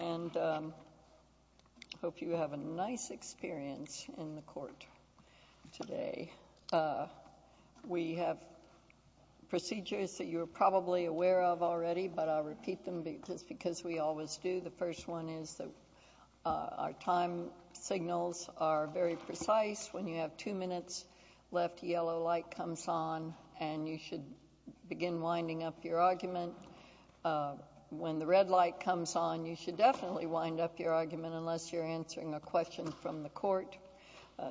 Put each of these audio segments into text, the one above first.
I hope you have a nice experience in the court today. We have procedures that you're probably aware of already, but I'll repeat them because we always do. The first one is that our time signals are very precise. When you have two minutes left, a yellow light comes on, and you should begin winding up your argument. When the red light comes on, you should definitely wind up your argument unless you're answering a question from the court.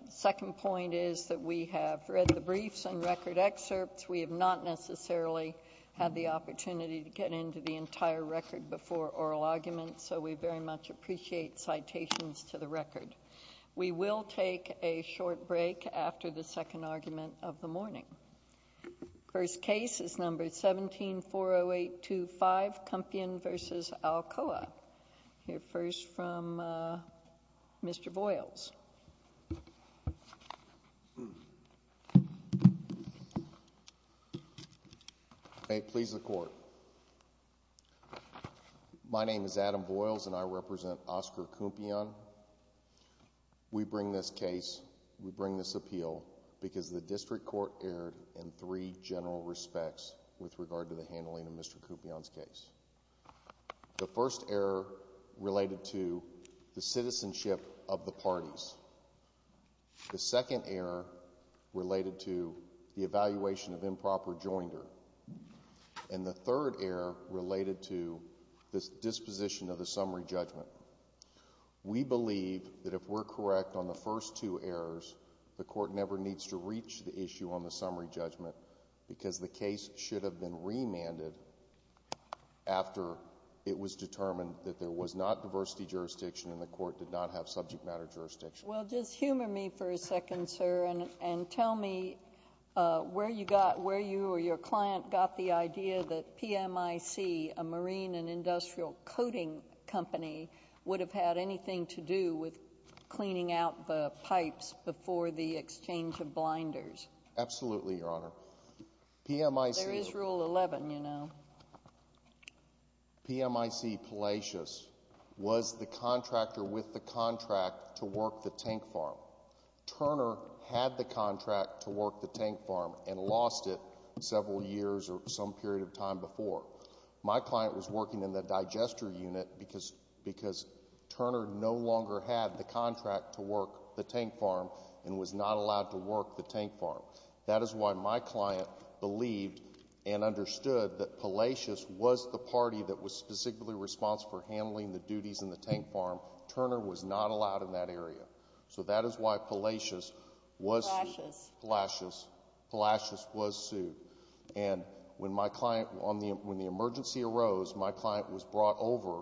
Second point is that we have read the briefs and record excerpts. We have not necessarily had the opportunity to get into the entire record before oral arguments, so we very much appreciate citations to the record. We will take a short break after the second argument of the morning. The first case is number 17-40825, Cumpian v. Alcoa. We'll hear first from Mr. Voyles. May it please the Court. My name is Adam Voyles, and I represent Oscar Cumpian. Mr. Cumpian, we bring this case, we bring this appeal because the district court erred in three general respects with regard to the handling of Mr. Cumpian's case. The first error related to the citizenship of the parties. The second error related to the evaluation of improper joinder, and the third error related to the disposition of the summary judgment. We believe that if we're correct on the first two errors, the court never needs to reach the issue on the summary judgment because the case should have been remanded after it was determined that there was not diversity jurisdiction and the court did not have subject matter jurisdiction. Well, just humor me for a second, sir, and tell me where you got, where you or your client got the idea that PMIC, a marine and industrial coating company, would have had anything to do with cleaning out the pipes before the exchange of blinders. Absolutely, Your Honor. PMIC— There is Rule 11, you know. PMIC Palacios was the contractor with the contract to work the tank farm. Turner had the contract to work the tank farm and lost it several years or some period of time before. My client was working in the digester unit because Turner no longer had the contract to work the tank farm and was not allowed to work the tank farm. That is why my client believed and understood that Palacios was the party that was specifically responsible for handling the duties in the tank farm. Turner was not allowed in that area. So that is why Palacios was sued. Palacios. Palacios. Palacios was sued. And when my client, when the emergency arose, my client was brought over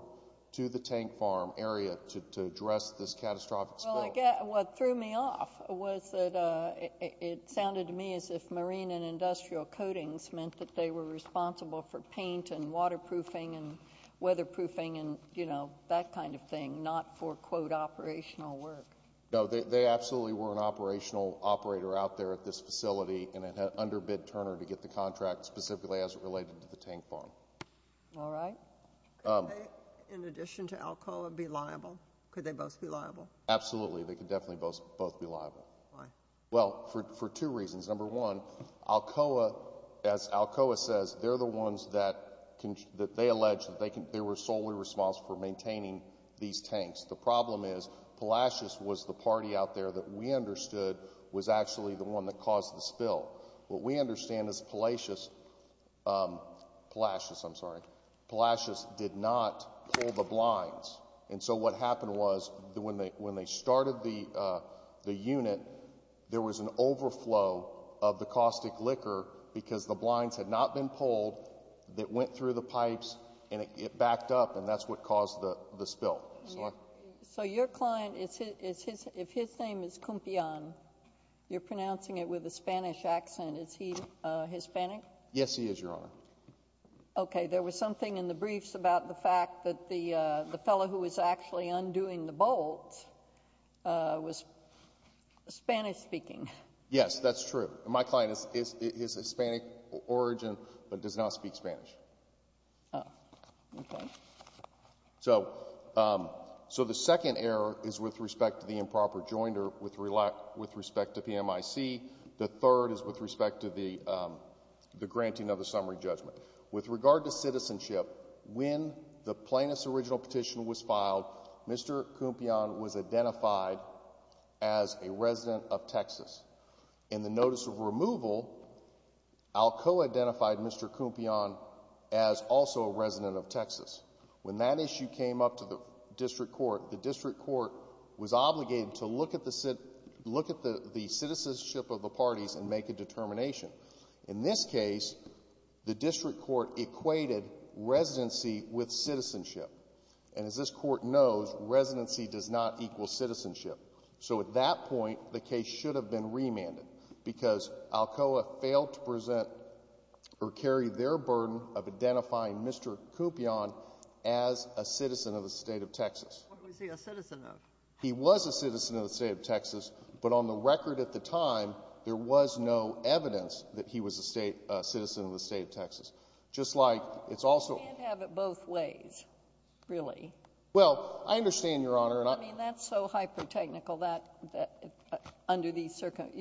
to the tank farm area to address this catastrophic spill. Well, what threw me off was that it sounded to me as if marine and industrial coatings meant that they were responsible for paint and waterproofing and weatherproofing and, you know, that kind of thing, not for, quote, operational work. No, they absolutely were an operational operator out there at this facility and had underbid Turner to get the contract specifically as it related to the tank farm. All right. Could they, in addition to Alcoa, be liable? Could they both be liable? Absolutely. They could definitely both be liable. Why? Well, for two reasons. Number one, Alcoa, as Alcoa says, they're the ones that they allege that they were solely responsible for maintaining these tanks. The problem is, Palacios was the party out there that we understood was actually the one that caused the spill. What we understand is Palacios, Palacios, I'm sorry, Palacios did not pull the blinds. And so what happened was when they started the unit, there was an overflow of the caustic liquor because the blinds had not been pulled that went through the pipes and it backed up and that's what caused the spill. So your client, if his name is Kumpian, you're pronouncing it with a Spanish accent, is he Hispanic? Yes, he is, Your Honor. Okay. There was something in the briefs about the fact that the fellow who was actually undoing the bolts was Spanish speaking. Yes, that's true. My client is of Hispanic origin but does not speak Spanish. Oh, okay. So the second error is with respect to the improper jointer with respect to PMIC. The third is with respect to the granting of the summary judgment. With regard to citizenship, when the plaintiff's original petition was filed, Mr. Kumpian was identified as a resident of Texas. In the notice of removal, Alcoa identified Mr. Kumpian as also a resident of Texas. When that issue came up to the district court, the district court was obligated to look at the citizenship of the parties and make a determination. In this case, the district court equated residency with citizenship. And as this court knows, residency does not equal citizenship. So at that point, the case should have been remanded because Alcoa failed to present or carry their burden of identifying Mr. Kumpian as a citizen of the state of Texas. What was he a citizen of? He was a citizen of the state of Texas, but on the record at the time, there was no evidence that he was a citizen of the state of Texas. Just like it's also — You can't have it both ways, really. Well, I understand, Your Honor, and I — Well, I mean, that's so hyper-technical, that — under these circum —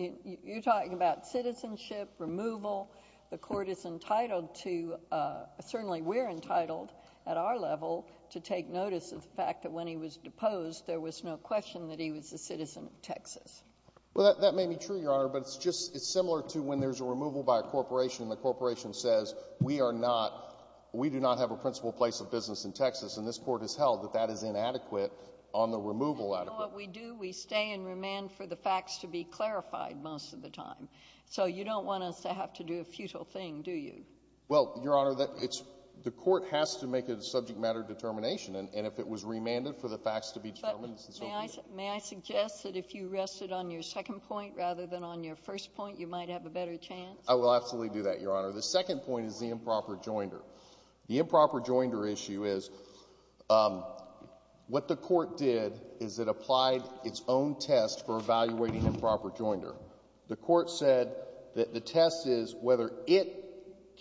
you're talking about citizenship, removal. The court is entitled to — certainly we're entitled at our level to take notice of the fact that when he was deposed, there was no question that he was a citizen of Texas. Well, that may be true, Your Honor, but it's just — it's similar to when there's a removal by a corporation and the corporation says, we are not — we do not have a principal place of business in Texas. And this Court has held that that is inadequate on the removal adequate. And you know what we do? We stay and remand for the facts to be clarified most of the time. So you don't want us to have to do a futile thing, do you? Well, Your Honor, that — it's — the court has to make a subject-matter determination, and if it was remanded for the facts to be determined, it's insubstantial. But may I suggest that if you rested on your second point rather than on your first point, you might have a better chance? I will absolutely do that, Your Honor. The second point is the improper joinder. The improper joinder issue is — what the court did is it applied its own test for evaluating improper joinder. The court said that the test is whether it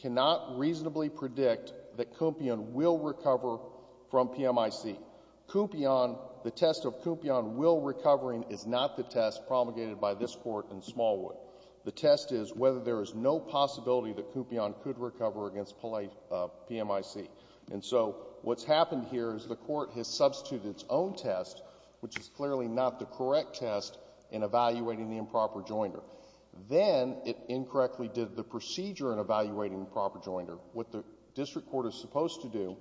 cannot reasonably predict that Kumpion will recover from PMIC. Kumpion — the test of Kumpion will recovering is not the test promulgated by this Court in Smallwood. The test is whether there is no possibility that Kumpion could recover against PMIC. And so what's happened here is the court has substituted its own test, which is clearly not the correct test, in evaluating the improper joinder. Then it incorrectly did the procedure in evaluating the improper joinder. What the district court is supposed to do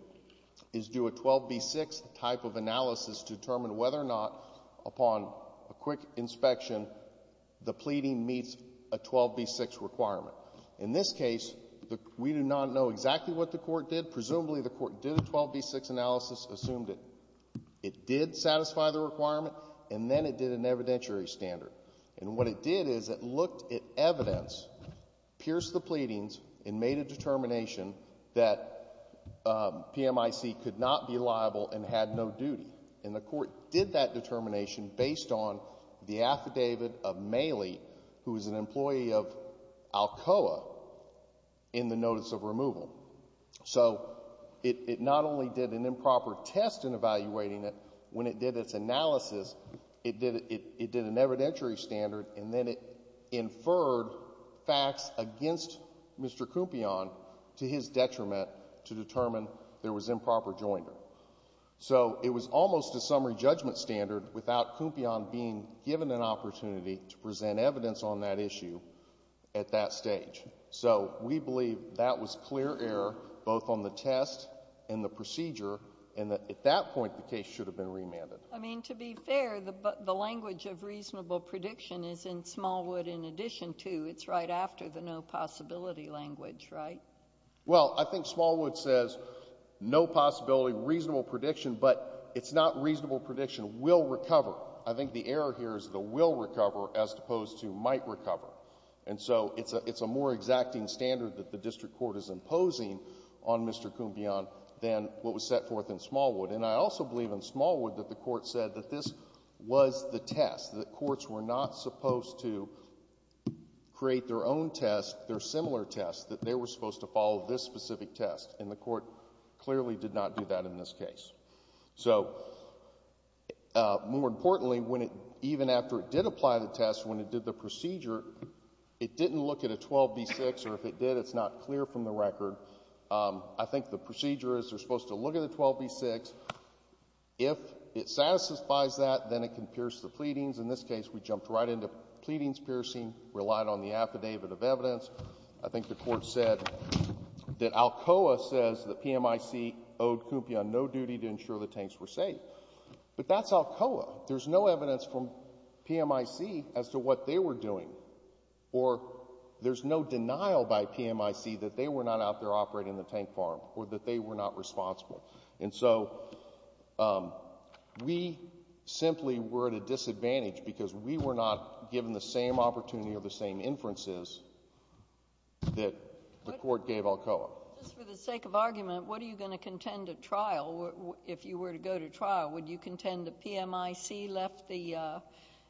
is do a 12B6 type of analysis to determine whether or not, upon a quick inspection, the pleading meets a 12B6 requirement. In this case, we do not know exactly what the court did. Presumably the court did a 12B6 analysis, assumed it did satisfy the requirement, and then it did an evidentiary standard. And what it did is it looked at evidence, pierced the pleadings, and made a determination that PMIC could not be liable and had no duty. And the court did that determination based on the affidavit of Maley, who is an employee of Alcoa, in the notice of removal. So it not only did an improper test in evaluating it. When it did its analysis, it did an evidentiary standard, and then it inferred facts against Mr. Kumpion to his detriment to determine there was improper joinder. So it was almost a summary judgment standard without Kumpion being given an opportunity to present evidence on that issue at that stage. So we believe that was clear error, both on the test and the procedure, and that at that point the case should have been remanded. I mean, to be fair, the language of reasonable prediction is in Smallwood in addition to, it's right after the no possibility language, right? Well, I think Smallwood says no possibility, reasonable prediction, but it's not reasonable prediction, will recover. I think the error here is the will recover as opposed to might recover. And so it's a more exacting standard that the district court is imposing on Mr. Kumpion than what was set forth in Smallwood. And I also believe in Smallwood that the court said that this was the test, that courts were not supposed to create their own test, their similar test, that they were supposed to follow this specific test. And the court clearly did not do that in this case. So more importantly, when it, even after it did apply the test, when it did the procedure, it didn't look at a 12B6, or if it did, it's not clear from the record. I think the procedure is they're supposed to look at the 12B6. If it satisfies that, then it can pierce the pleadings. In this case, we jumped right into pleadings piercing, relied on the affidavit of evidence. I think the court said that Alcoa says that PMIC owed Kumpion no duty to ensure the tanks were safe. But that's Alcoa. There's no evidence from PMIC as to what they were doing. Or there's no denial by PMIC that they were not out there operating the tank farm or that they were not responsible. And so we simply were at a disadvantage because we were not given the same opportunity or the same inferences that the court gave Alcoa. Just for the sake of argument, what are you going to contend at trial, if you were to go to trial? Would you contend that PMIC left the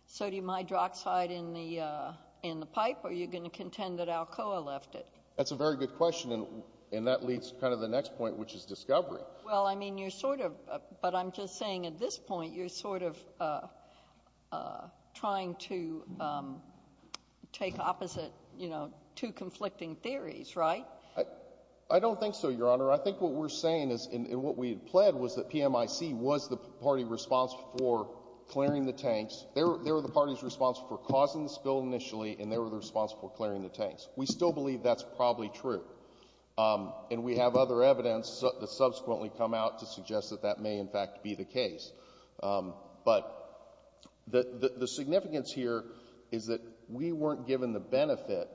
sodium hydroxide in the pipe, or are you going to contend that Alcoa left it? That's a very good question, and that leads to kind of the next point, which is discovery. Well, I mean, you're sort of — but I'm just saying at this point, you're sort of trying to take opposite, you know, two conflicting theories, right? I don't think so, Your Honor. I think what we're saying is — and what we had pled was that PMIC was the party responsible for clearing the tanks. They were the party responsible for causing the spill initially, and they were the responsible for clearing the tanks. We still believe that's probably true, and we have other evidence that subsequently come out to suggest that that may, in fact, be the case. But the significance here is that we weren't given the benefit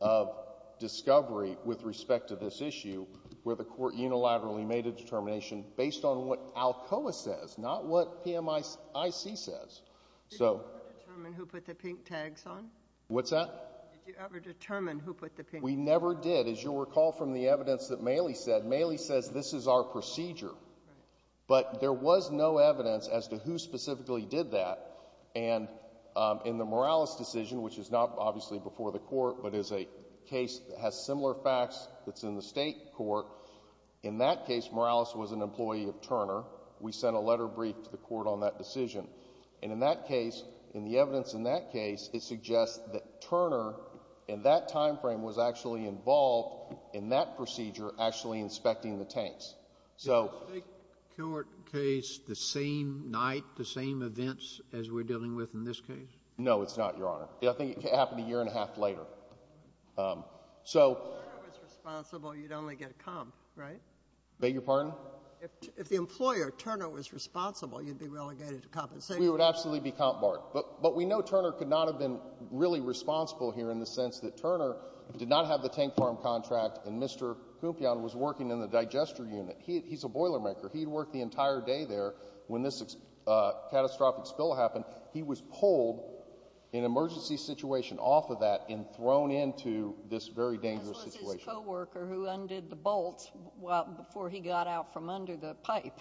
of discovery with respect to this issue where the court unilaterally made a determination based on what Alcoa says, not what PMIC says. So — Did you ever determine who put the pink tags on? What's that? Did you ever determine who put the pink tags on? We never did. As you'll recall from the evidence that Maley said, Maley says this is our procedure. But there was no evidence as to who specifically did that. And in the Morales decision, which is not, obviously, before the Court, but is a case that has similar facts that's in the State court, in that case, Morales was an employee of Turner. We sent a letter brief to the Court on that decision. And in that case, in the evidence in that case, it suggests that Turner, in that timeframe, was actually involved in that procedure actually inspecting the tanks. So — Is the Kilwart case the same night, the same events as we're dealing with in this case? No, it's not, Your Honor. I think it happened a year and a half later. So — If Turner was responsible, you'd only get a comp, right? Beg your pardon? If the employer, Turner, was responsible, you'd be relegated to compensation? We would absolutely be comp barred. But we know Turner could not have been really responsible here in the sense that Turner did not have the tank farm contract and Mr. Kumpion was working in the digester unit. He's a boilermaker. He had worked the entire day there when this catastrophic spill happened. He was pulled in an emergency situation off of that and thrown into this very dangerous situation. And there was a co-worker who undid the bolts before he got out from under the pipe.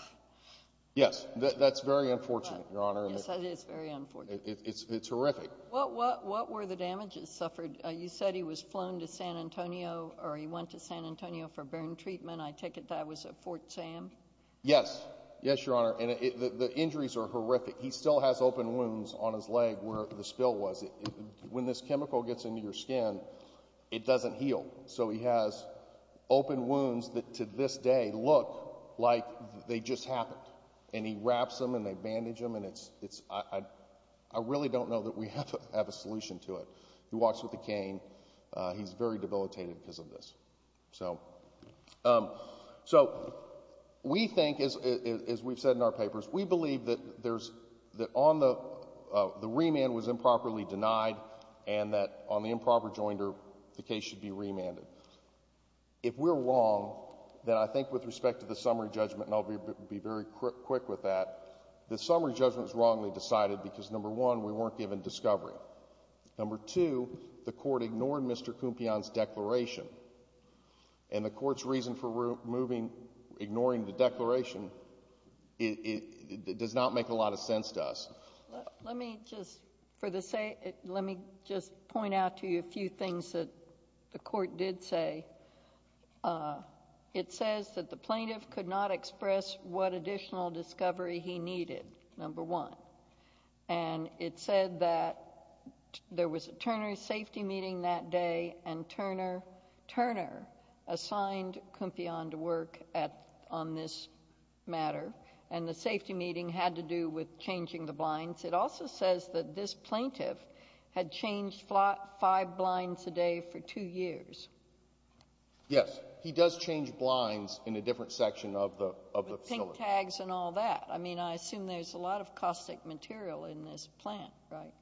Yes. That's very unfortunate, Your Honor. Yes, that is very unfortunate. It's horrific. What were the damages suffered? You said he was flown to San Antonio, or he went to San Antonio for burn treatment. I take it that was at Fort Sam? Yes. Yes, Your Honor. And the injuries are horrific. He still has open wounds on his leg where the spill was. He's still bleeding. He's still bleeding. He's still bleeding. He's still bleeding. He's still bleeding. He's still bleeding. He's still bleeding. He still has open wounds that, to this day, look like they just happened. And he wraps them and they bandage them, and I really don't know that we have a solution to it. He walks with a cane. He's very debilitated because of this. So we think, as we've said in our papers, we believe that the remand was improperly If we're wrong, then I think with respect to the summary judgment, and I'll be very quick with that, the summary judgment was wrongly decided because, number one, we weren't given discovery. Number two, the court ignored Mr. Cumpion's declaration. And the court's reason for ignoring the declaration does not make a lot of sense to us. Let me just point out to you a few things that the court did say. It says that the plaintiff could not express what additional discovery he needed, number one. And it said that there was a Turner safety meeting that day, and Turner assigned Cumpion on to work on this matter. And the safety meeting had to do with changing the blinds. It also says that this plaintiff had changed five blinds a day for two years. Yes. He does change blinds in a different section of the facility. With pink tags and all that. I mean, I assume there's a lot of caustic material in this plant, right?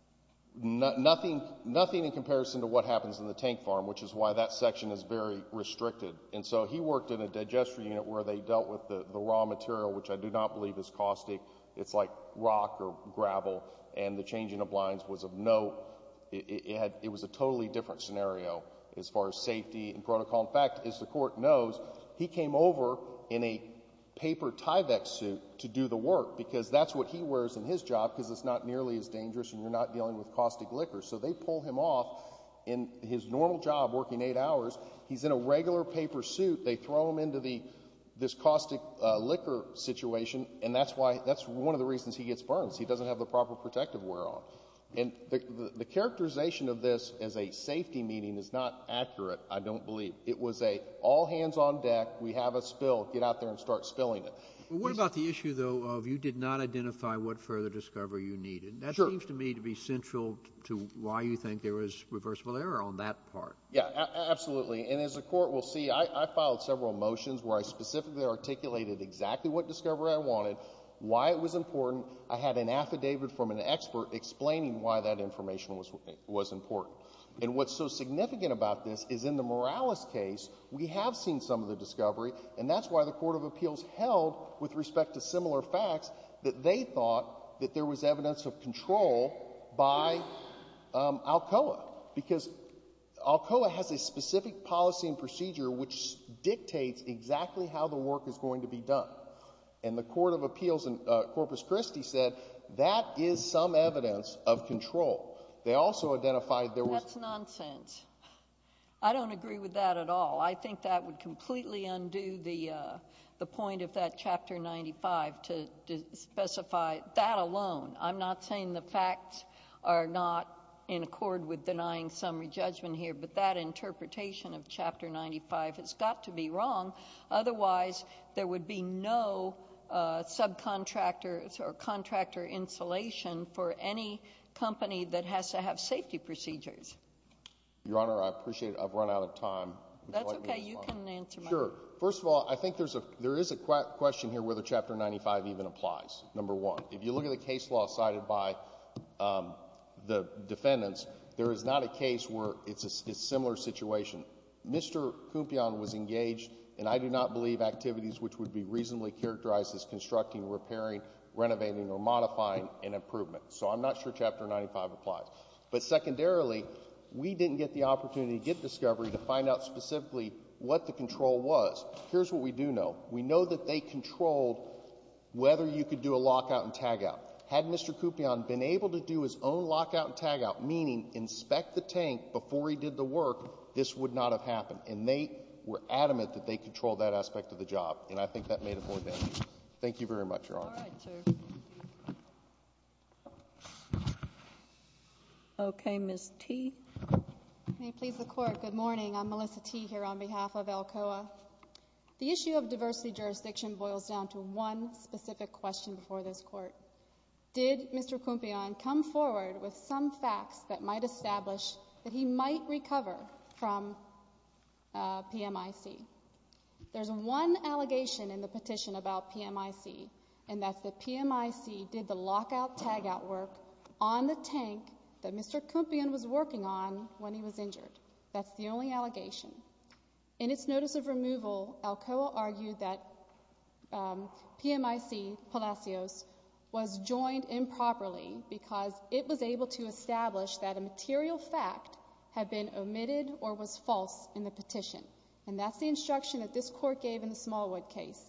Nothing in comparison to what happens in the tank farm, which is why that section is very restricted. And so he worked in a digestive unit where they dealt with the raw material, which I do not believe is caustic. It's like rock or gravel. And the changing of blinds was of no—it was a totally different scenario as far as safety and protocol. In fact, as the court knows, he came over in a paper Tyvek suit to do the work because that's what he wears in his job because it's not nearly as dangerous and you're not dealing with caustic liquor. So they pull him off in his normal job, working eight hours. He's in a regular paper suit. They throw him into this caustic liquor situation, and that's why—that's one of the reasons he gets burns. He doesn't have the proper protective wear on. And the characterization of this as a safety meeting is not accurate, I don't believe. It was an all hands on deck. We have a spill. Get out there and start spilling it. Well, what about the issue, though, of you did not identify what further discovery you needed? Sure. That seems to me to be central to why you think there was reversible error on that part. Yeah. Absolutely. And as the Court will see, I filed several motions where I specifically articulated exactly what discovery I wanted, why it was important. I had an affidavit from an expert explaining why that information was important. And what's so significant about this is in the Morales case, we have seen some of the discovery, and that's why the Court of Appeals held, with respect to similar facts, that they thought that there was evidence of control by Alcoa. Because Alcoa has a specific policy and procedure which dictates exactly how the work is going to be done. And the Court of Appeals in Corpus Christi said that is some evidence of control. They also identified there was That's nonsense. I don't agree with that at all. I think that would completely undo the point of that Chapter 95 to specify that alone. I'm not saying the facts are not in accord with denying summary judgment here, but that interpretation of Chapter 95 has got to be wrong. Otherwise, there would be no subcontractor or contractor insulation for any company that has to have safety procedures. Your Honor, I appreciate it. I've run out of time. That's okay. You can answer my question. Sure. First of all, I think there is a question here whether Chapter 95 even applies. Number one. If you look at the case law cited by the defendants, there is not a case where it's a similar situation. Mr. Kumpion was engaged, and I do not believe activities which would be reasonably characterized as constructing, repairing, renovating, or modifying an improvement. So I'm not sure Chapter 95 applies. But secondarily, we didn't get the opportunity to get discovery to find out specifically what the control was. Here's what we do know. We know that they controlled whether you could do a lockout and tagout. Had Mr. Kumpion been able to do his own lockout and tagout, meaning inspect the tank before he did the work, this would not have happened. And they were adamant that they controlled that aspect of the job. And I think that made it more dangerous. Thank you very much, Your Honor. All right, sir. Thank you. Okay. Ms. Tee. May it please the Court. Good morning. I'm Melissa Tee here on behalf of Alcoa. The issue of diversity jurisdiction boils down to one specific question before this Court. Did Mr. Kumpion come forward with some facts that might establish that he might recover from PMIC? There's one allegation in the petition about PMIC, and that's that PMIC did the lockout-tagout work on the tank that Mr. Kumpion was working on when he was injured. That's the only allegation. In its notice of removal, Alcoa argued that PMIC Palacios was joined improperly because it was able to establish that a material fact had been omitted or was false in the petition. And that's the instruction that this Court gave in the Smallwood case.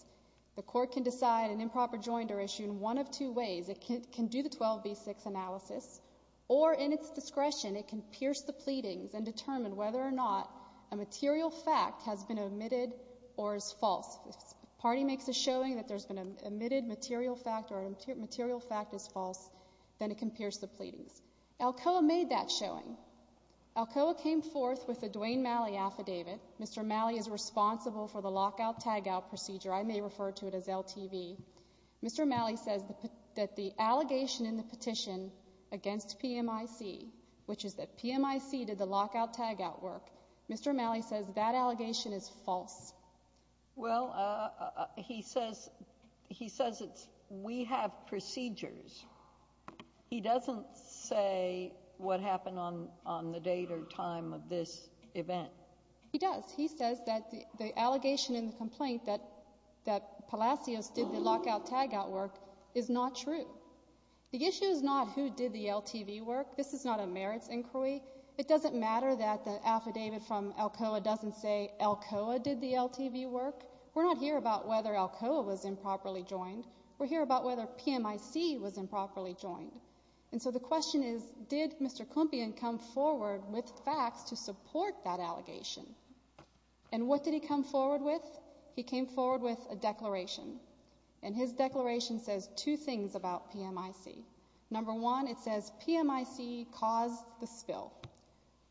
The Court can decide an improper joinder issue in one of two ways. It can do the 12B6 analysis, or in its discretion, it can pierce the pleadings and determine whether or not a material fact has been omitted or is false. If the party makes a showing that there's been an omitted material fact or a material fact is false, then it can pierce the pleadings. Alcoa made that showing. Alcoa came forth with a Dwayne Malley affidavit. Mr. Malley is responsible for the lockout-tagout procedure. I may refer to it as LTV. Mr. Malley says that the allegation in the petition against PMIC, which is that PMIC did the lockout-tagout work, Mr. Malley says that allegation is false. Well, he says it's, we have procedures. He doesn't say what happened on the date or time of this event. He does. He says that the allegation in the complaint that Palacios did the lockout-tagout work is not true. The issue is not who did the LTV work. This is not a merits inquiry. It doesn't matter that the affidavit from Alcoa doesn't say Alcoa did the LTV work. We're not here about whether Alcoa was improperly joined. We're here about whether PMIC was improperly joined. And so the question is, did Mr. Klumpion come forward with facts to support that allegation? And what did he come forward with? He came forward with a declaration. And his declaration says two things about PMIC. Number one, it says PMIC caused the spill.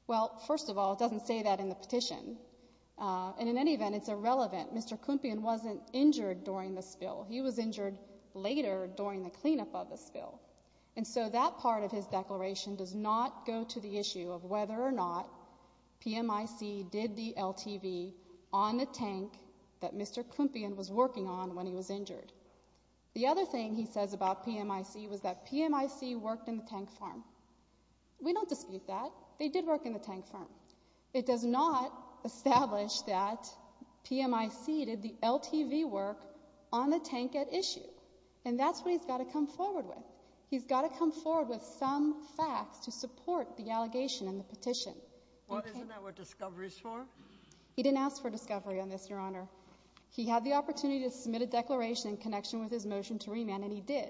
Well, first of all, it doesn't say that in the petition. And in any event, it's irrelevant. Mr. Klumpion wasn't injured during the spill. He was injured later during the cleanup of the spill. And so that part of his declaration does not go to the issue of whether or not PMIC did the LTV on the tank that Mr. Klumpion was working on when he was injured. The other thing he says about PMIC was that PMIC worked in the tank farm. We don't dispute that. They did work in the tank farm. It does not establish that PMIC did the LTV work on the tank at issue. And that's what he's got to come forward with. He's got to come forward with some facts to support the allegation in the petition. Isn't that what Discovery is for? He didn't ask for Discovery on this, Your Honor. He had the opportunity to submit a declaration in connection with his motion to remand, and he did.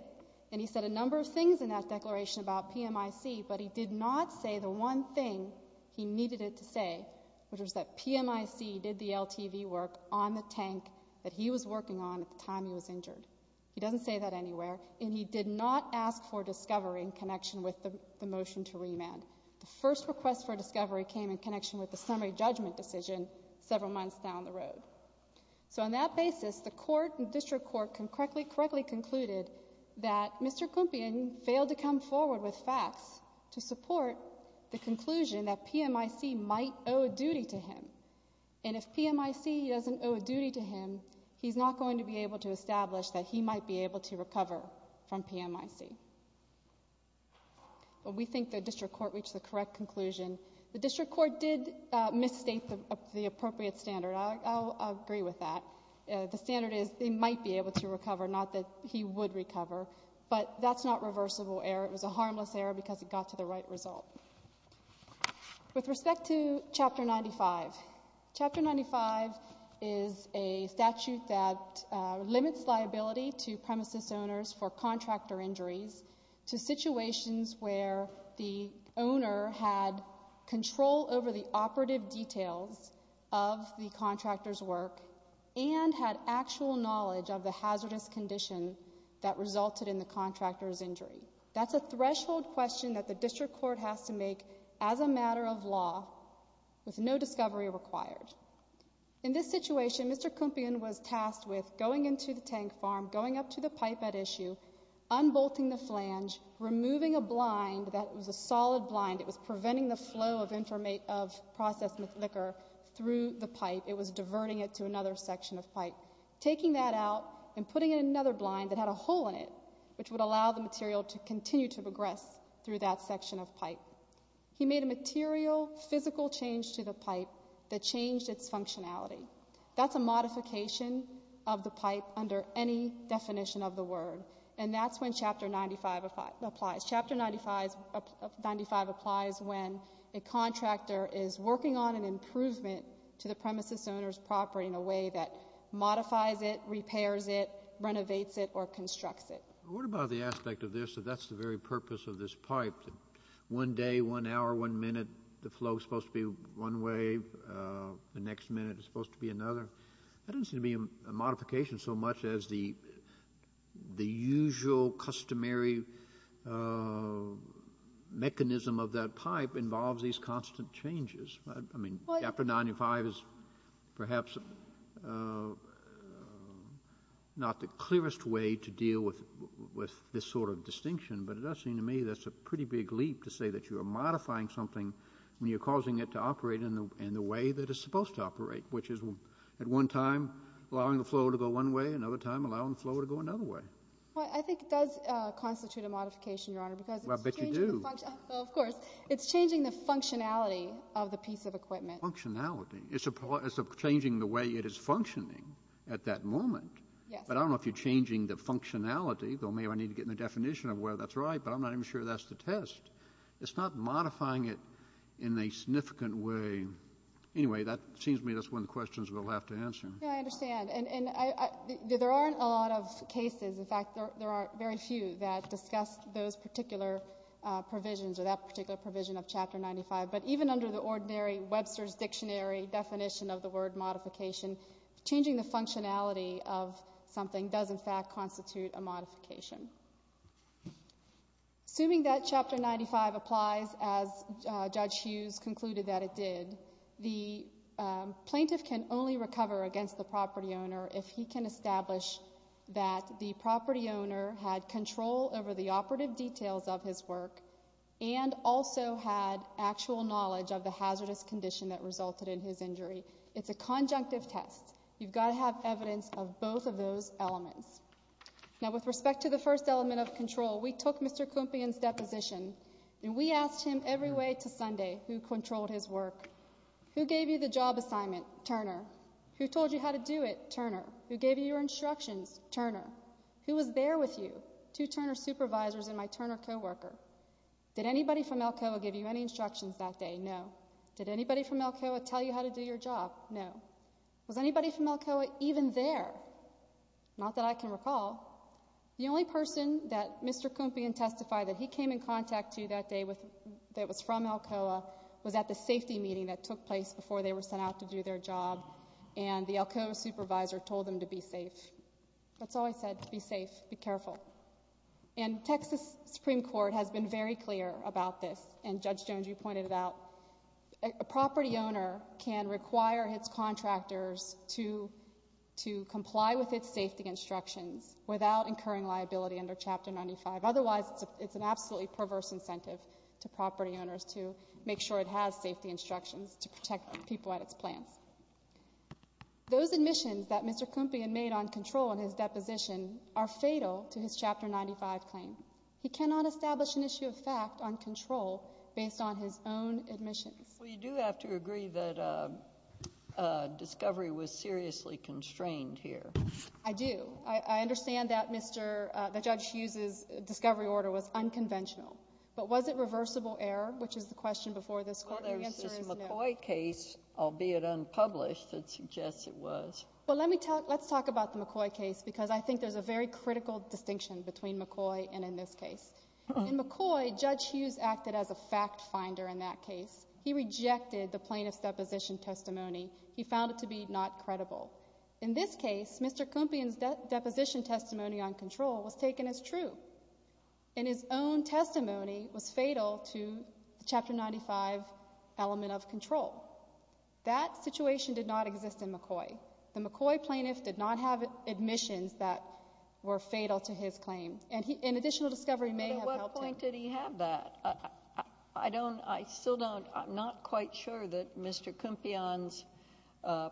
And he said a number of things in that declaration about PMIC, but he did not say the one thing he needed it to say, which was that PMIC did the LTV work on the tank that he was working on at the time he was injured. He doesn't say that anywhere. And he did not ask for Discovery in connection with the motion to remand. The first request for Discovery came in connection with the summary judgment decision several months down the road. So on that basis, the court and district court correctly concluded that Mr. Kumpian failed to come forward with facts to support the conclusion that PMIC might owe a duty to him. And if PMIC doesn't owe a duty to him, he's not going to be able to establish that he might be able to recover from PMIC. We think the district court reached the correct conclusion. The district court did misstate the appropriate standard. I'll agree with that. The standard is he might be able to recover, not that he would recover. But that's not reversible error. It was a harmless error because it got to the right result. With respect to Chapter 95, Chapter 95 is a statute that limits liability to premises owners for contractor injuries to situations where the owner had control over the operative details of the contractor's work and had actual knowledge of the hazardous condition that resulted in the contractor's injury. That's a threshold question that the district court has to make as a matter of law with no Discovery required. In this situation, Mr. Kumpian was tasked with going into the tank farm, going up to the pipe at issue, unbolting the flange, removing a blind that was a solid blind. It was preventing the flow of processed liquor through the pipe. It was diverting it to another section of pipe. Taking that out and putting in another blind that had a hole in it, which would allow the material to continue to progress through that section of pipe. He made a material, physical change to the pipe that changed its functionality. That's a modification of the pipe under any definition of the word. And that's when Chapter 95 applies. Chapter 95 applies when a contractor is working on an improvement to the premises owner's property in a way that modifies it, repairs it, renovates it, or constructs it. What about the aspect of this that that's the very purpose of this pipe? One day, one hour, one minute, the flow is supposed to be one way. The next minute, it's supposed to be another. That doesn't seem to be a modification so much as the usual customary mechanism of that pipe involves these constant changes. I mean, Chapter 95 is perhaps not the clearest way to deal with this sort of distinction. But it does seem to me that's a pretty big leap to say that you are modifying something when you're causing it to operate in the way that it's supposed to operate, which is at one time allowing the flow to go one way, another time allowing the flow to go another way. Well, I think it does constitute a modification, Your Honor, because it's changing the functionality of the piece of equipment. Functionality. It's changing the way it is functioning at that moment. But I don't know if you're changing the functionality, though maybe I need to get in the definition of where that's right. But I'm not even sure that's the test. It's not modifying it in a significant way. Anyway, that seems to me that's one of the questions we'll have to answer. Yeah, I understand. And there aren't a lot of cases. In fact, there are very few that discuss those particular provisions or that particular provision of Chapter 95. But even under the ordinary Webster's Dictionary definition of the word modification, changing the functionality of something does, in fact, constitute a modification. Assuming that Chapter 95 applies as Judge Hughes concluded that it did, the plaintiff can only recover against the property owner if he can establish that the property owner had control over the operative details of his work and also had actual knowledge of the hazardous condition that resulted in his injury. It's a conjunctive test. You've got to have evidence of both of those elements. Now, with respect to the first element of control, we took Mr. Klumpion's deposition and we asked him every way to Sunday who controlled his work. Who gave you the job assignment? Turner. Who told you how to do it? Turner. Who gave you your instructions? Turner. Who was there with you? Two Turner supervisors and my Turner co-worker. Did anybody from Alcoa give you any instructions that day? No. Did anybody from Alcoa tell you how to do your job? No. Was anybody from Alcoa even there? Not that I can recall. The only person that Mr. Klumpion testified that he came in contact to that day that was from Alcoa was at the safety meeting that took place before they were sent out to do their job and the Alcoa supervisor told them to be safe. That's all he said, be safe, be careful. And Texas Supreme Court has been very clear about this and Judge Jones, you pointed it out. A property owner can require its contractors to comply with its safety instructions without incurring liability under Chapter 95. Otherwise, it's an absolutely perverse incentive to property owners to make sure it has safety instructions to protect people at its plants. Those admissions that Mr. Klumpion made on control in his deposition are fatal to his Chapter 95 claim. He cannot establish an issue of fact on control based on his own admissions. Well, you do have to agree that discovery was seriously constrained here. I do. I understand that Judge Hughes' discovery order was unconventional. But was it reversible error, which is the question before this court? The answer is no. Well, there's this McCoy case, albeit unpublished, that suggests it was. Well, let's talk about the McCoy case because I think there's a very critical distinction between McCoy and in this case. In McCoy, Judge Hughes acted as a fact finder in that case. He rejected the plaintiff's deposition testimony. He found it to be not credible. In this case, Mr. Klumpion's deposition testimony on control was taken as true. And his own testimony was fatal to the Chapter 95 element of control. That situation did not exist in McCoy. The McCoy plaintiff did not have admissions that were fatal to his claim. And an additional discovery may have helped him. But at what point did he have that? I don't, I still don't, I'm not quite sure that Mr. Klumpion's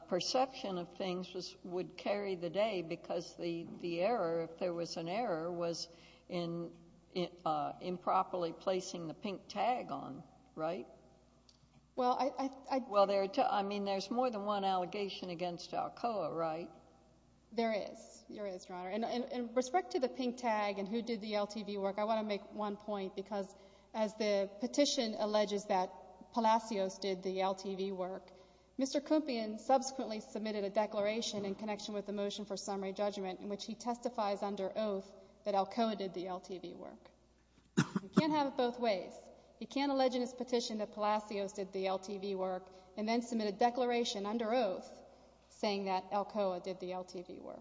perception of things would carry the day because the error, if there was an error, was in improperly placing the pink tag on, right? Well, I. Well, there are, I mean, there's more than one allegation against Alcoa, right? There is. There is, Your Honor. And in respect to the pink tag and who did the LTV work, I want to make one point because as the petition alleges that Palacios did the LTV work, Mr. Klumpion subsequently submitted a declaration in connection with the motion for summary judgment in which he testifies under oath that Alcoa did the LTV work. You can't have it both ways. He can't allege in his petition that Palacios did the LTV work and then submit a declaration under oath saying that Alcoa did the LTV work.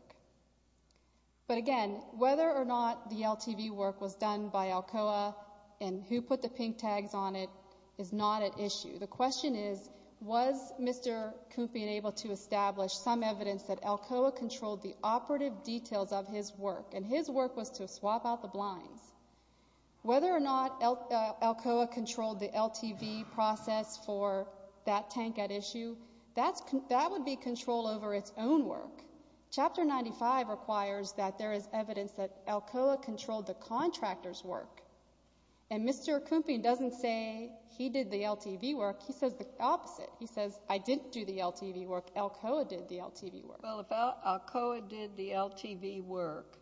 But again, whether or not the LTV work was done by Alcoa and who put the pink tags on it is not at issue. The question is, was Mr. Klumpion able to establish some evidence that Alcoa controlled the operative details of his work? And his work was to swap out the blinds. Whether or not Alcoa controlled the LTV process for that tank at issue, that would be control over its own work. Chapter 95 requires that there is evidence that Alcoa controlled the contractor's work. And Mr. Klumpion doesn't say he did the LTV work, he says the opposite. He says, I didn't do the LTV work, Alcoa did the LTV work. Well, if Alcoa did the LTV work,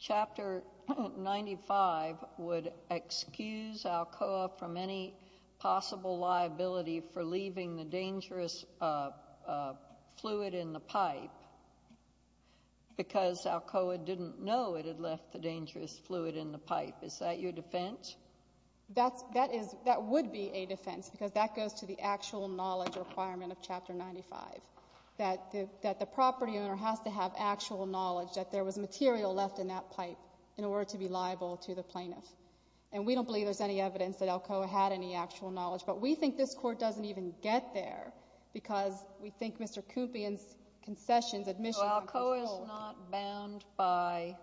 Chapter 95 would excuse Alcoa from any possible liability for leaving the dangerous fluid in the pipe. Because Alcoa didn't know it had left the dangerous fluid in the pipe. Is that your defense? That would be a defense, because that goes to the actual knowledge requirement of Chapter 95. That the property owner has to have actual knowledge that there was material left in that pipe in order to be liable to the plaintiff. And we don't believe there's any evidence that Alcoa had any actual knowledge. But we think this court doesn't even get there, because we think Mr. Klumpion's concessions, admission- But Alcoa's not bound by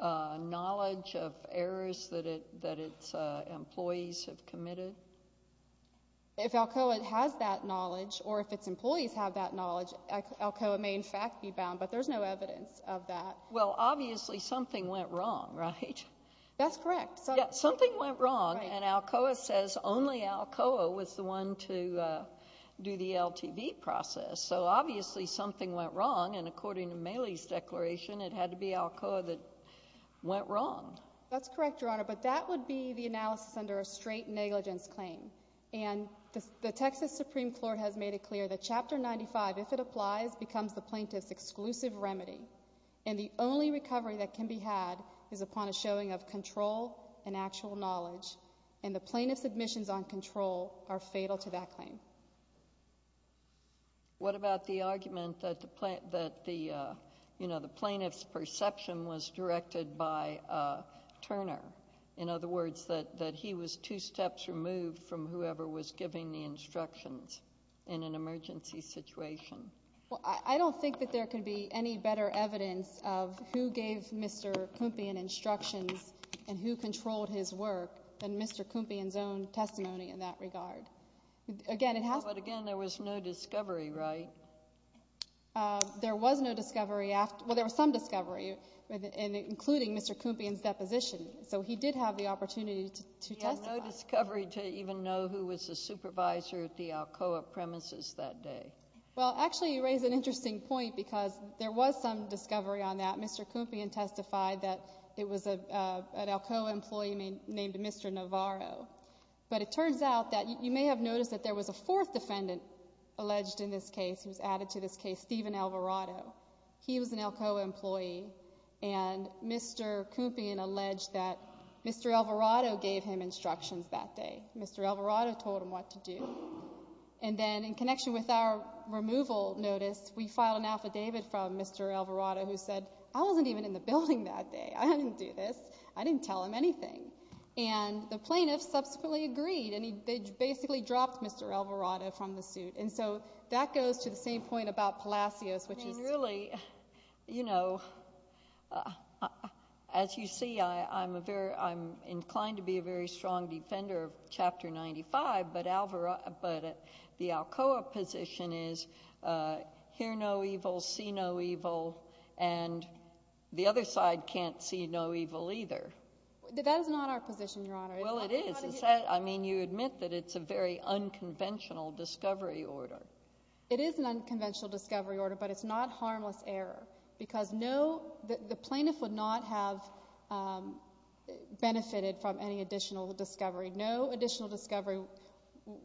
knowledge of errors that its employees have committed? If Alcoa has that knowledge, or if its employees have that knowledge, Alcoa may in fact be bound, but there's no evidence of that. Well, obviously something went wrong, right? That's correct. Yeah, something went wrong, and Alcoa says only Alcoa was the one to do the LTV process. So obviously something went wrong, and according to Maley's declaration, it had to be Alcoa that went wrong. That's correct, Your Honor, but that would be the analysis under a straight negligence claim. And the Texas Supreme Court has made it clear that Chapter 95, if it applies, becomes the plaintiff's exclusive remedy. And the only recovery that can be had is upon a showing of control and actual knowledge. And the plaintiff's admissions on control are fatal to that claim. What about the argument that the plaintiff's perception was directed by Turner? In other words, that he was two steps removed from whoever was giving the instructions in an emergency situation? Well, I don't think that there could be any better evidence of who gave Mr. Klumpion instructions and who controlled his work than Mr. Klumpion's own testimony in that regard. Again, it has to be. But again, there was no discovery, right? There was no discovery after, well, there was some discovery, including Mr. Klumpion's deposition. So he did have the opportunity to testify. He had no discovery to even know who was the supervisor at the Alcoa premises that day. Well, actually, you raise an interesting point, because there was some discovery on that. Mr. Klumpion testified that it was an Alcoa employee named Mr. Navarro. But it turns out that you may have noticed that there was a fourth defendant alleged in this case who was added to this case, Steven Alvarado. He was an Alcoa employee, and Mr. Klumpion alleged that Mr. Alvarado gave him instructions that day. Mr. Alvarado told him what to do. And then in connection with our removal notice, we filed an affidavit from Mr. Alvarado who said, I wasn't even in the building that day, I didn't do this, I didn't tell him anything. And the plaintiff subsequently agreed, and they basically dropped Mr. Alvarado from the suit. And so that goes to the same point about Palacios, which is- I mean, really, as you see, I'm inclined to be a very strong defender of Chapter 95, but the Alcoa position is hear no evil, see no evil, and the other side can't see no evil either. That is not our position, Your Honor. Well, it is. I mean, you admit that it's a very unconventional discovery order. It is an unconventional discovery order, but it's not harmless error. Because the plaintiff would not have benefited from any additional discovery. No additional discovery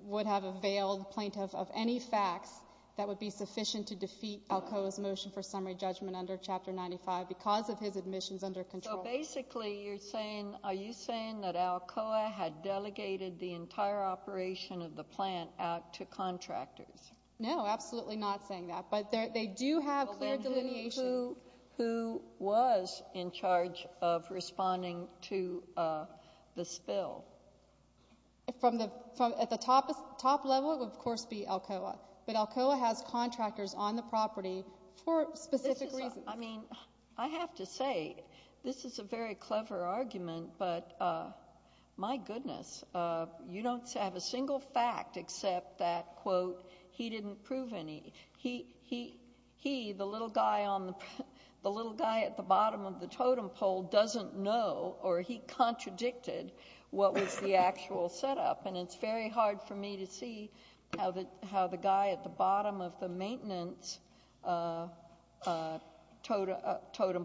would have availed the plaintiff of any facts that would be sufficient to defeat Alcoa's motion for summary judgment under Chapter 95 because of his admissions under control. Basically, you're saying, are you saying that Alcoa had delegated the entire operation of the plant out to contractors? No, absolutely not saying that. But they do have clear delineation. Who was in charge of responding to the spill? From the top level, it would, of course, be Alcoa. But Alcoa has contractors on the property for specific reasons. I mean, I have to say, this is a very clever argument, but my goodness. You don't have a single fact except that, quote, he didn't prove any. He, the little guy at the bottom of the totem pole, doesn't know or he contradicted what was the actual setup. And it's very hard for me to see how the guy at the bottom of the maintenance totem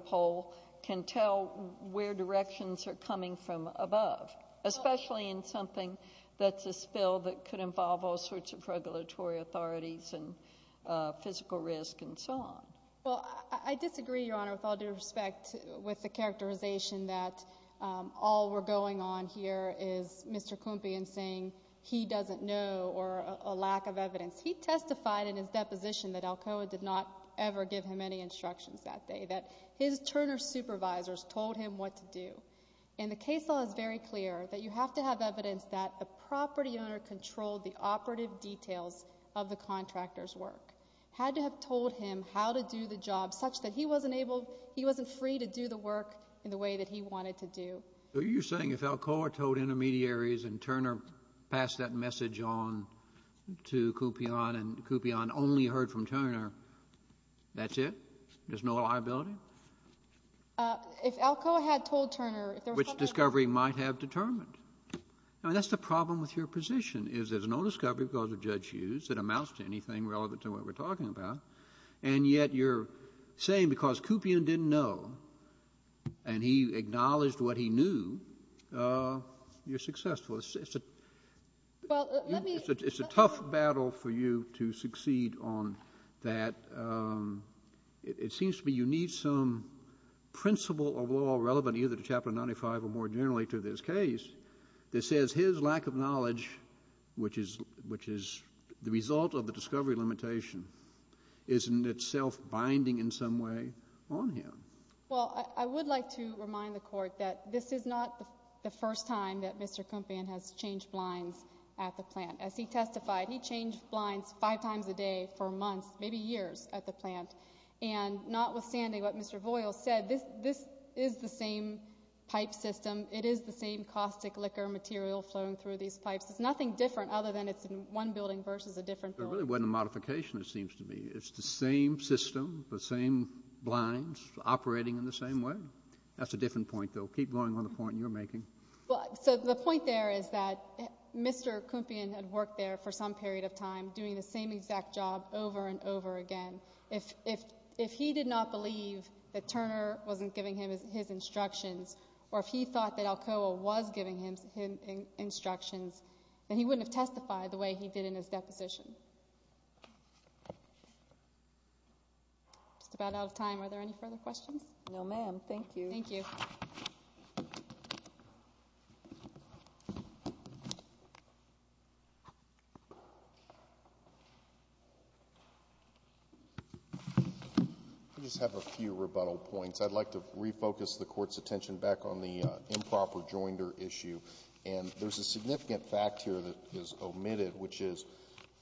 pole can tell where directions are coming from above, especially in something that's a spill that could involve all sorts of regulatory authorities and physical risk and so on. Well, I disagree, Your Honor, with all due respect with the characterization that all we're going on here is Mr. Kumpy and saying he doesn't know or a lack of evidence. He testified in his deposition that Alcoa did not ever give him any instructions that day, that his Turner supervisors told him what to do. And the case law is very clear that you have to have evidence that a property owner controlled the operative details of the contractor's work. Had to have told him how to do the job such that he wasn't able, he wasn't free to do the work in the way that he wanted to do. So you're saying if Alcoa told intermediaries and Turner passed that message on to Kumpyon and Kumpyon only heard from Turner, that's it? There's no liability? If Alcoa had told Turner, if there was something that- Which discovery might have determined. I mean, that's the problem with your position, is there's no discovery because of Judge Hughes that amounts to anything relevant to what we're talking about. And yet you're saying because Kumpyon didn't know and he acknowledged what he knew, you're successful. It's a tough battle for you to succeed on that. It seems to me you need some principle of law relevant either to Chapter 95 or more generally to this case that says his lack of knowledge, which is the result of the discovery limitation, isn't itself binding in some way on him. Well, I would like to remind the court that this is not the first time that Mr. Kumpyon has changed blinds at the plant. As he testified, he changed blinds five times a day for months, maybe years, at the plant. And notwithstanding what Mr. Voyles said, this is the same pipe system. It is the same caustic liquor material flowing through these pipes. It's nothing different other than it's in one building versus a different building. There really wasn't a modification, it seems to me. It's the same system, the same blinds operating in the same way. That's a different point, though. Keep going on the point you're making. So the point there is that Mr. Kumpyon had worked there for some period of time doing the same exact job over and over again. If he did not believe that Turner wasn't giving him his instructions, or if he thought that Alcoa was giving him instructions, then he wouldn't have testified the way he did in his deposition. Just about out of time. Are there any further questions? No, ma'am. Thank you. Thank you. I just have a few rebuttal points. I'd like to refocus the court's attention back on the improper joinder issue. And there's a significant fact here that is omitted, which is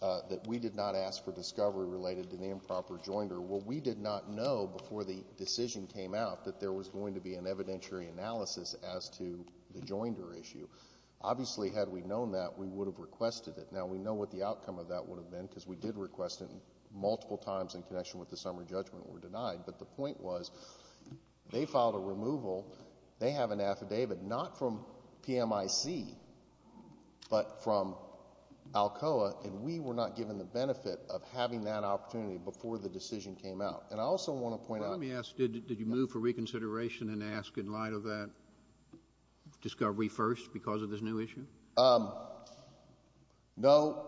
that we did not ask for discovery related to the improper joinder. What we did not know before the decision came out that there was going to be an evidentiary analysis as to the joinder issue. Obviously, had we known that, we would have requested it. Now, we know what the outcome of that would have been, because we did request it multiple times in connection with the summary judgment were denied. But the point was, they filed a removal. They have an affidavit, not from PMIC, but from Alcoa. And we were not given the benefit of having that opportunity before the decision came out. And I also want to point out- Let me ask, did you move for reconsideration and ask in light of that discovery first because of this new issue? No,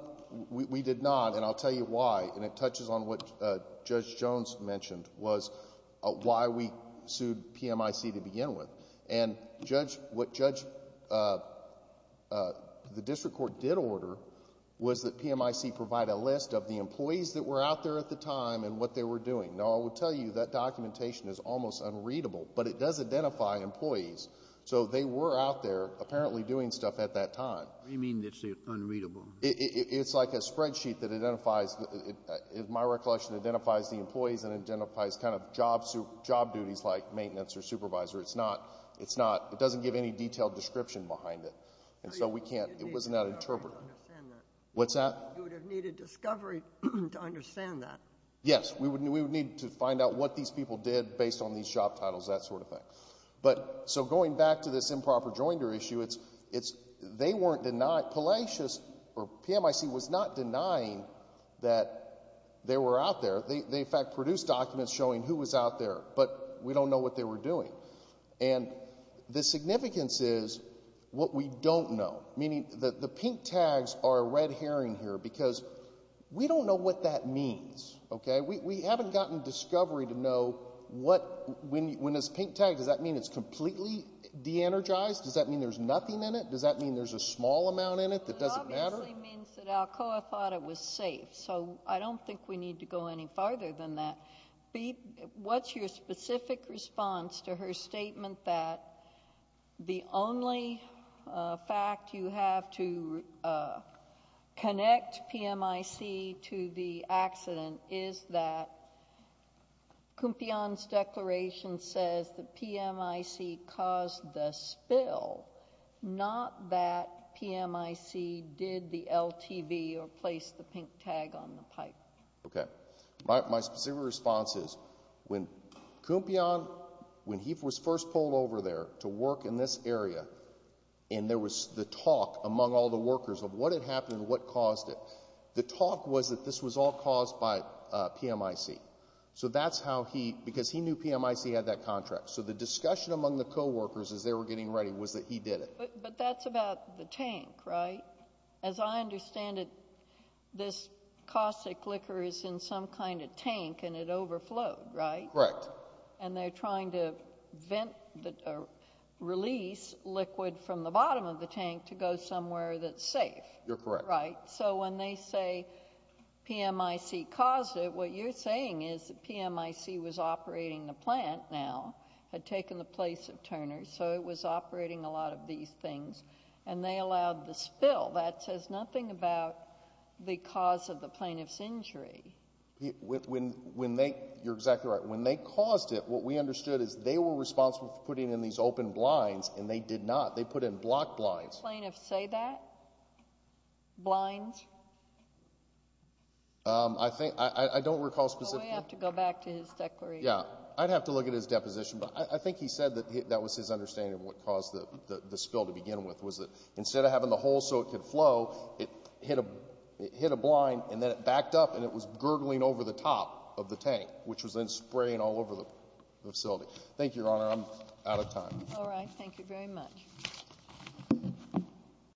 we did not. And I'll tell you why. And it touches on what Judge Jones mentioned, was why we sued PMIC to begin with. And what the district court did order was that PMIC provide a list of the employees that were out there at the time and what they were doing. Now, I will tell you, that documentation is almost unreadable, but it does identify employees. So they were out there apparently doing stuff at that time. What do you mean it's unreadable? It's like a spreadsheet that identifies, in my recollection, identifies the employees and identifies kind of job duties like maintenance or supervisor. It's not, it's not, it doesn't give any detailed description behind it. And so we can't, it wasn't that interpreted. What's that? You would have needed discovery to understand that. Yes, we would need to find out what these people did based on these job titles, that sort of thing. But, so going back to this improper joinder issue, it's, they weren't denied, Palacios or PMIC was not denying that they were out there. They in fact produced documents showing who was out there, but we don't know what they were doing. And the significance is what we don't know. Meaning that the pink tags are a red herring here because we don't know what that means, okay? We haven't gotten discovery to know what, when it's pink tagged, does that mean it's completely de-energized? Does that mean there's nothing in it? Does that mean there's a small amount in it that doesn't matter? It obviously means that Alcoa thought it was safe. So I don't think we need to go any farther than that. What's your specific response to her statement that the only fact you have to connect PMIC to the accident is that Cumpion's declaration says that PMIC caused the spill. Not that PMIC did the LTV or placed the pink tag on the pipe. Okay, my specific response is, when Cumpion, when he was first pulled over there to work in this area, and there was the talk among all the workers of what had happened and what caused it. The talk was that this was all caused by PMIC. So that's how he, because he knew PMIC had that contract. So the discussion among the co-workers as they were getting ready was that he did it. But that's about the tank, right? As I understand it, this caustic liquor is in some kind of tank and it overflowed, right? Correct. And they're trying to release liquid from the bottom of the tank to go somewhere that's safe. You're correct. So when they say PMIC caused it, what you're saying is that PMIC was operating the plant now, had taken the place of Turner's, so it was operating a lot of these things. And they allowed the spill. That says nothing about the cause of the plaintiff's injury. When they, you're exactly right. When they caused it, what we understood is they were responsible for putting in these open blinds, and they did not. They put in block blinds. Did the plaintiff say that? Blinds? I think, I don't recall specifically. Well, we have to go back to his declaration. Yeah, I'd have to look at his deposition. But I think he said that was his understanding of what caused the spill to begin with. Was that instead of having the hole so it could flow, it hit a blind and then it backed up and it was gurgling over the top of the tank, which was then spraying all over the facility. Thank you, Your Honor, I'm out of time. All right, thank you very much. Thank you.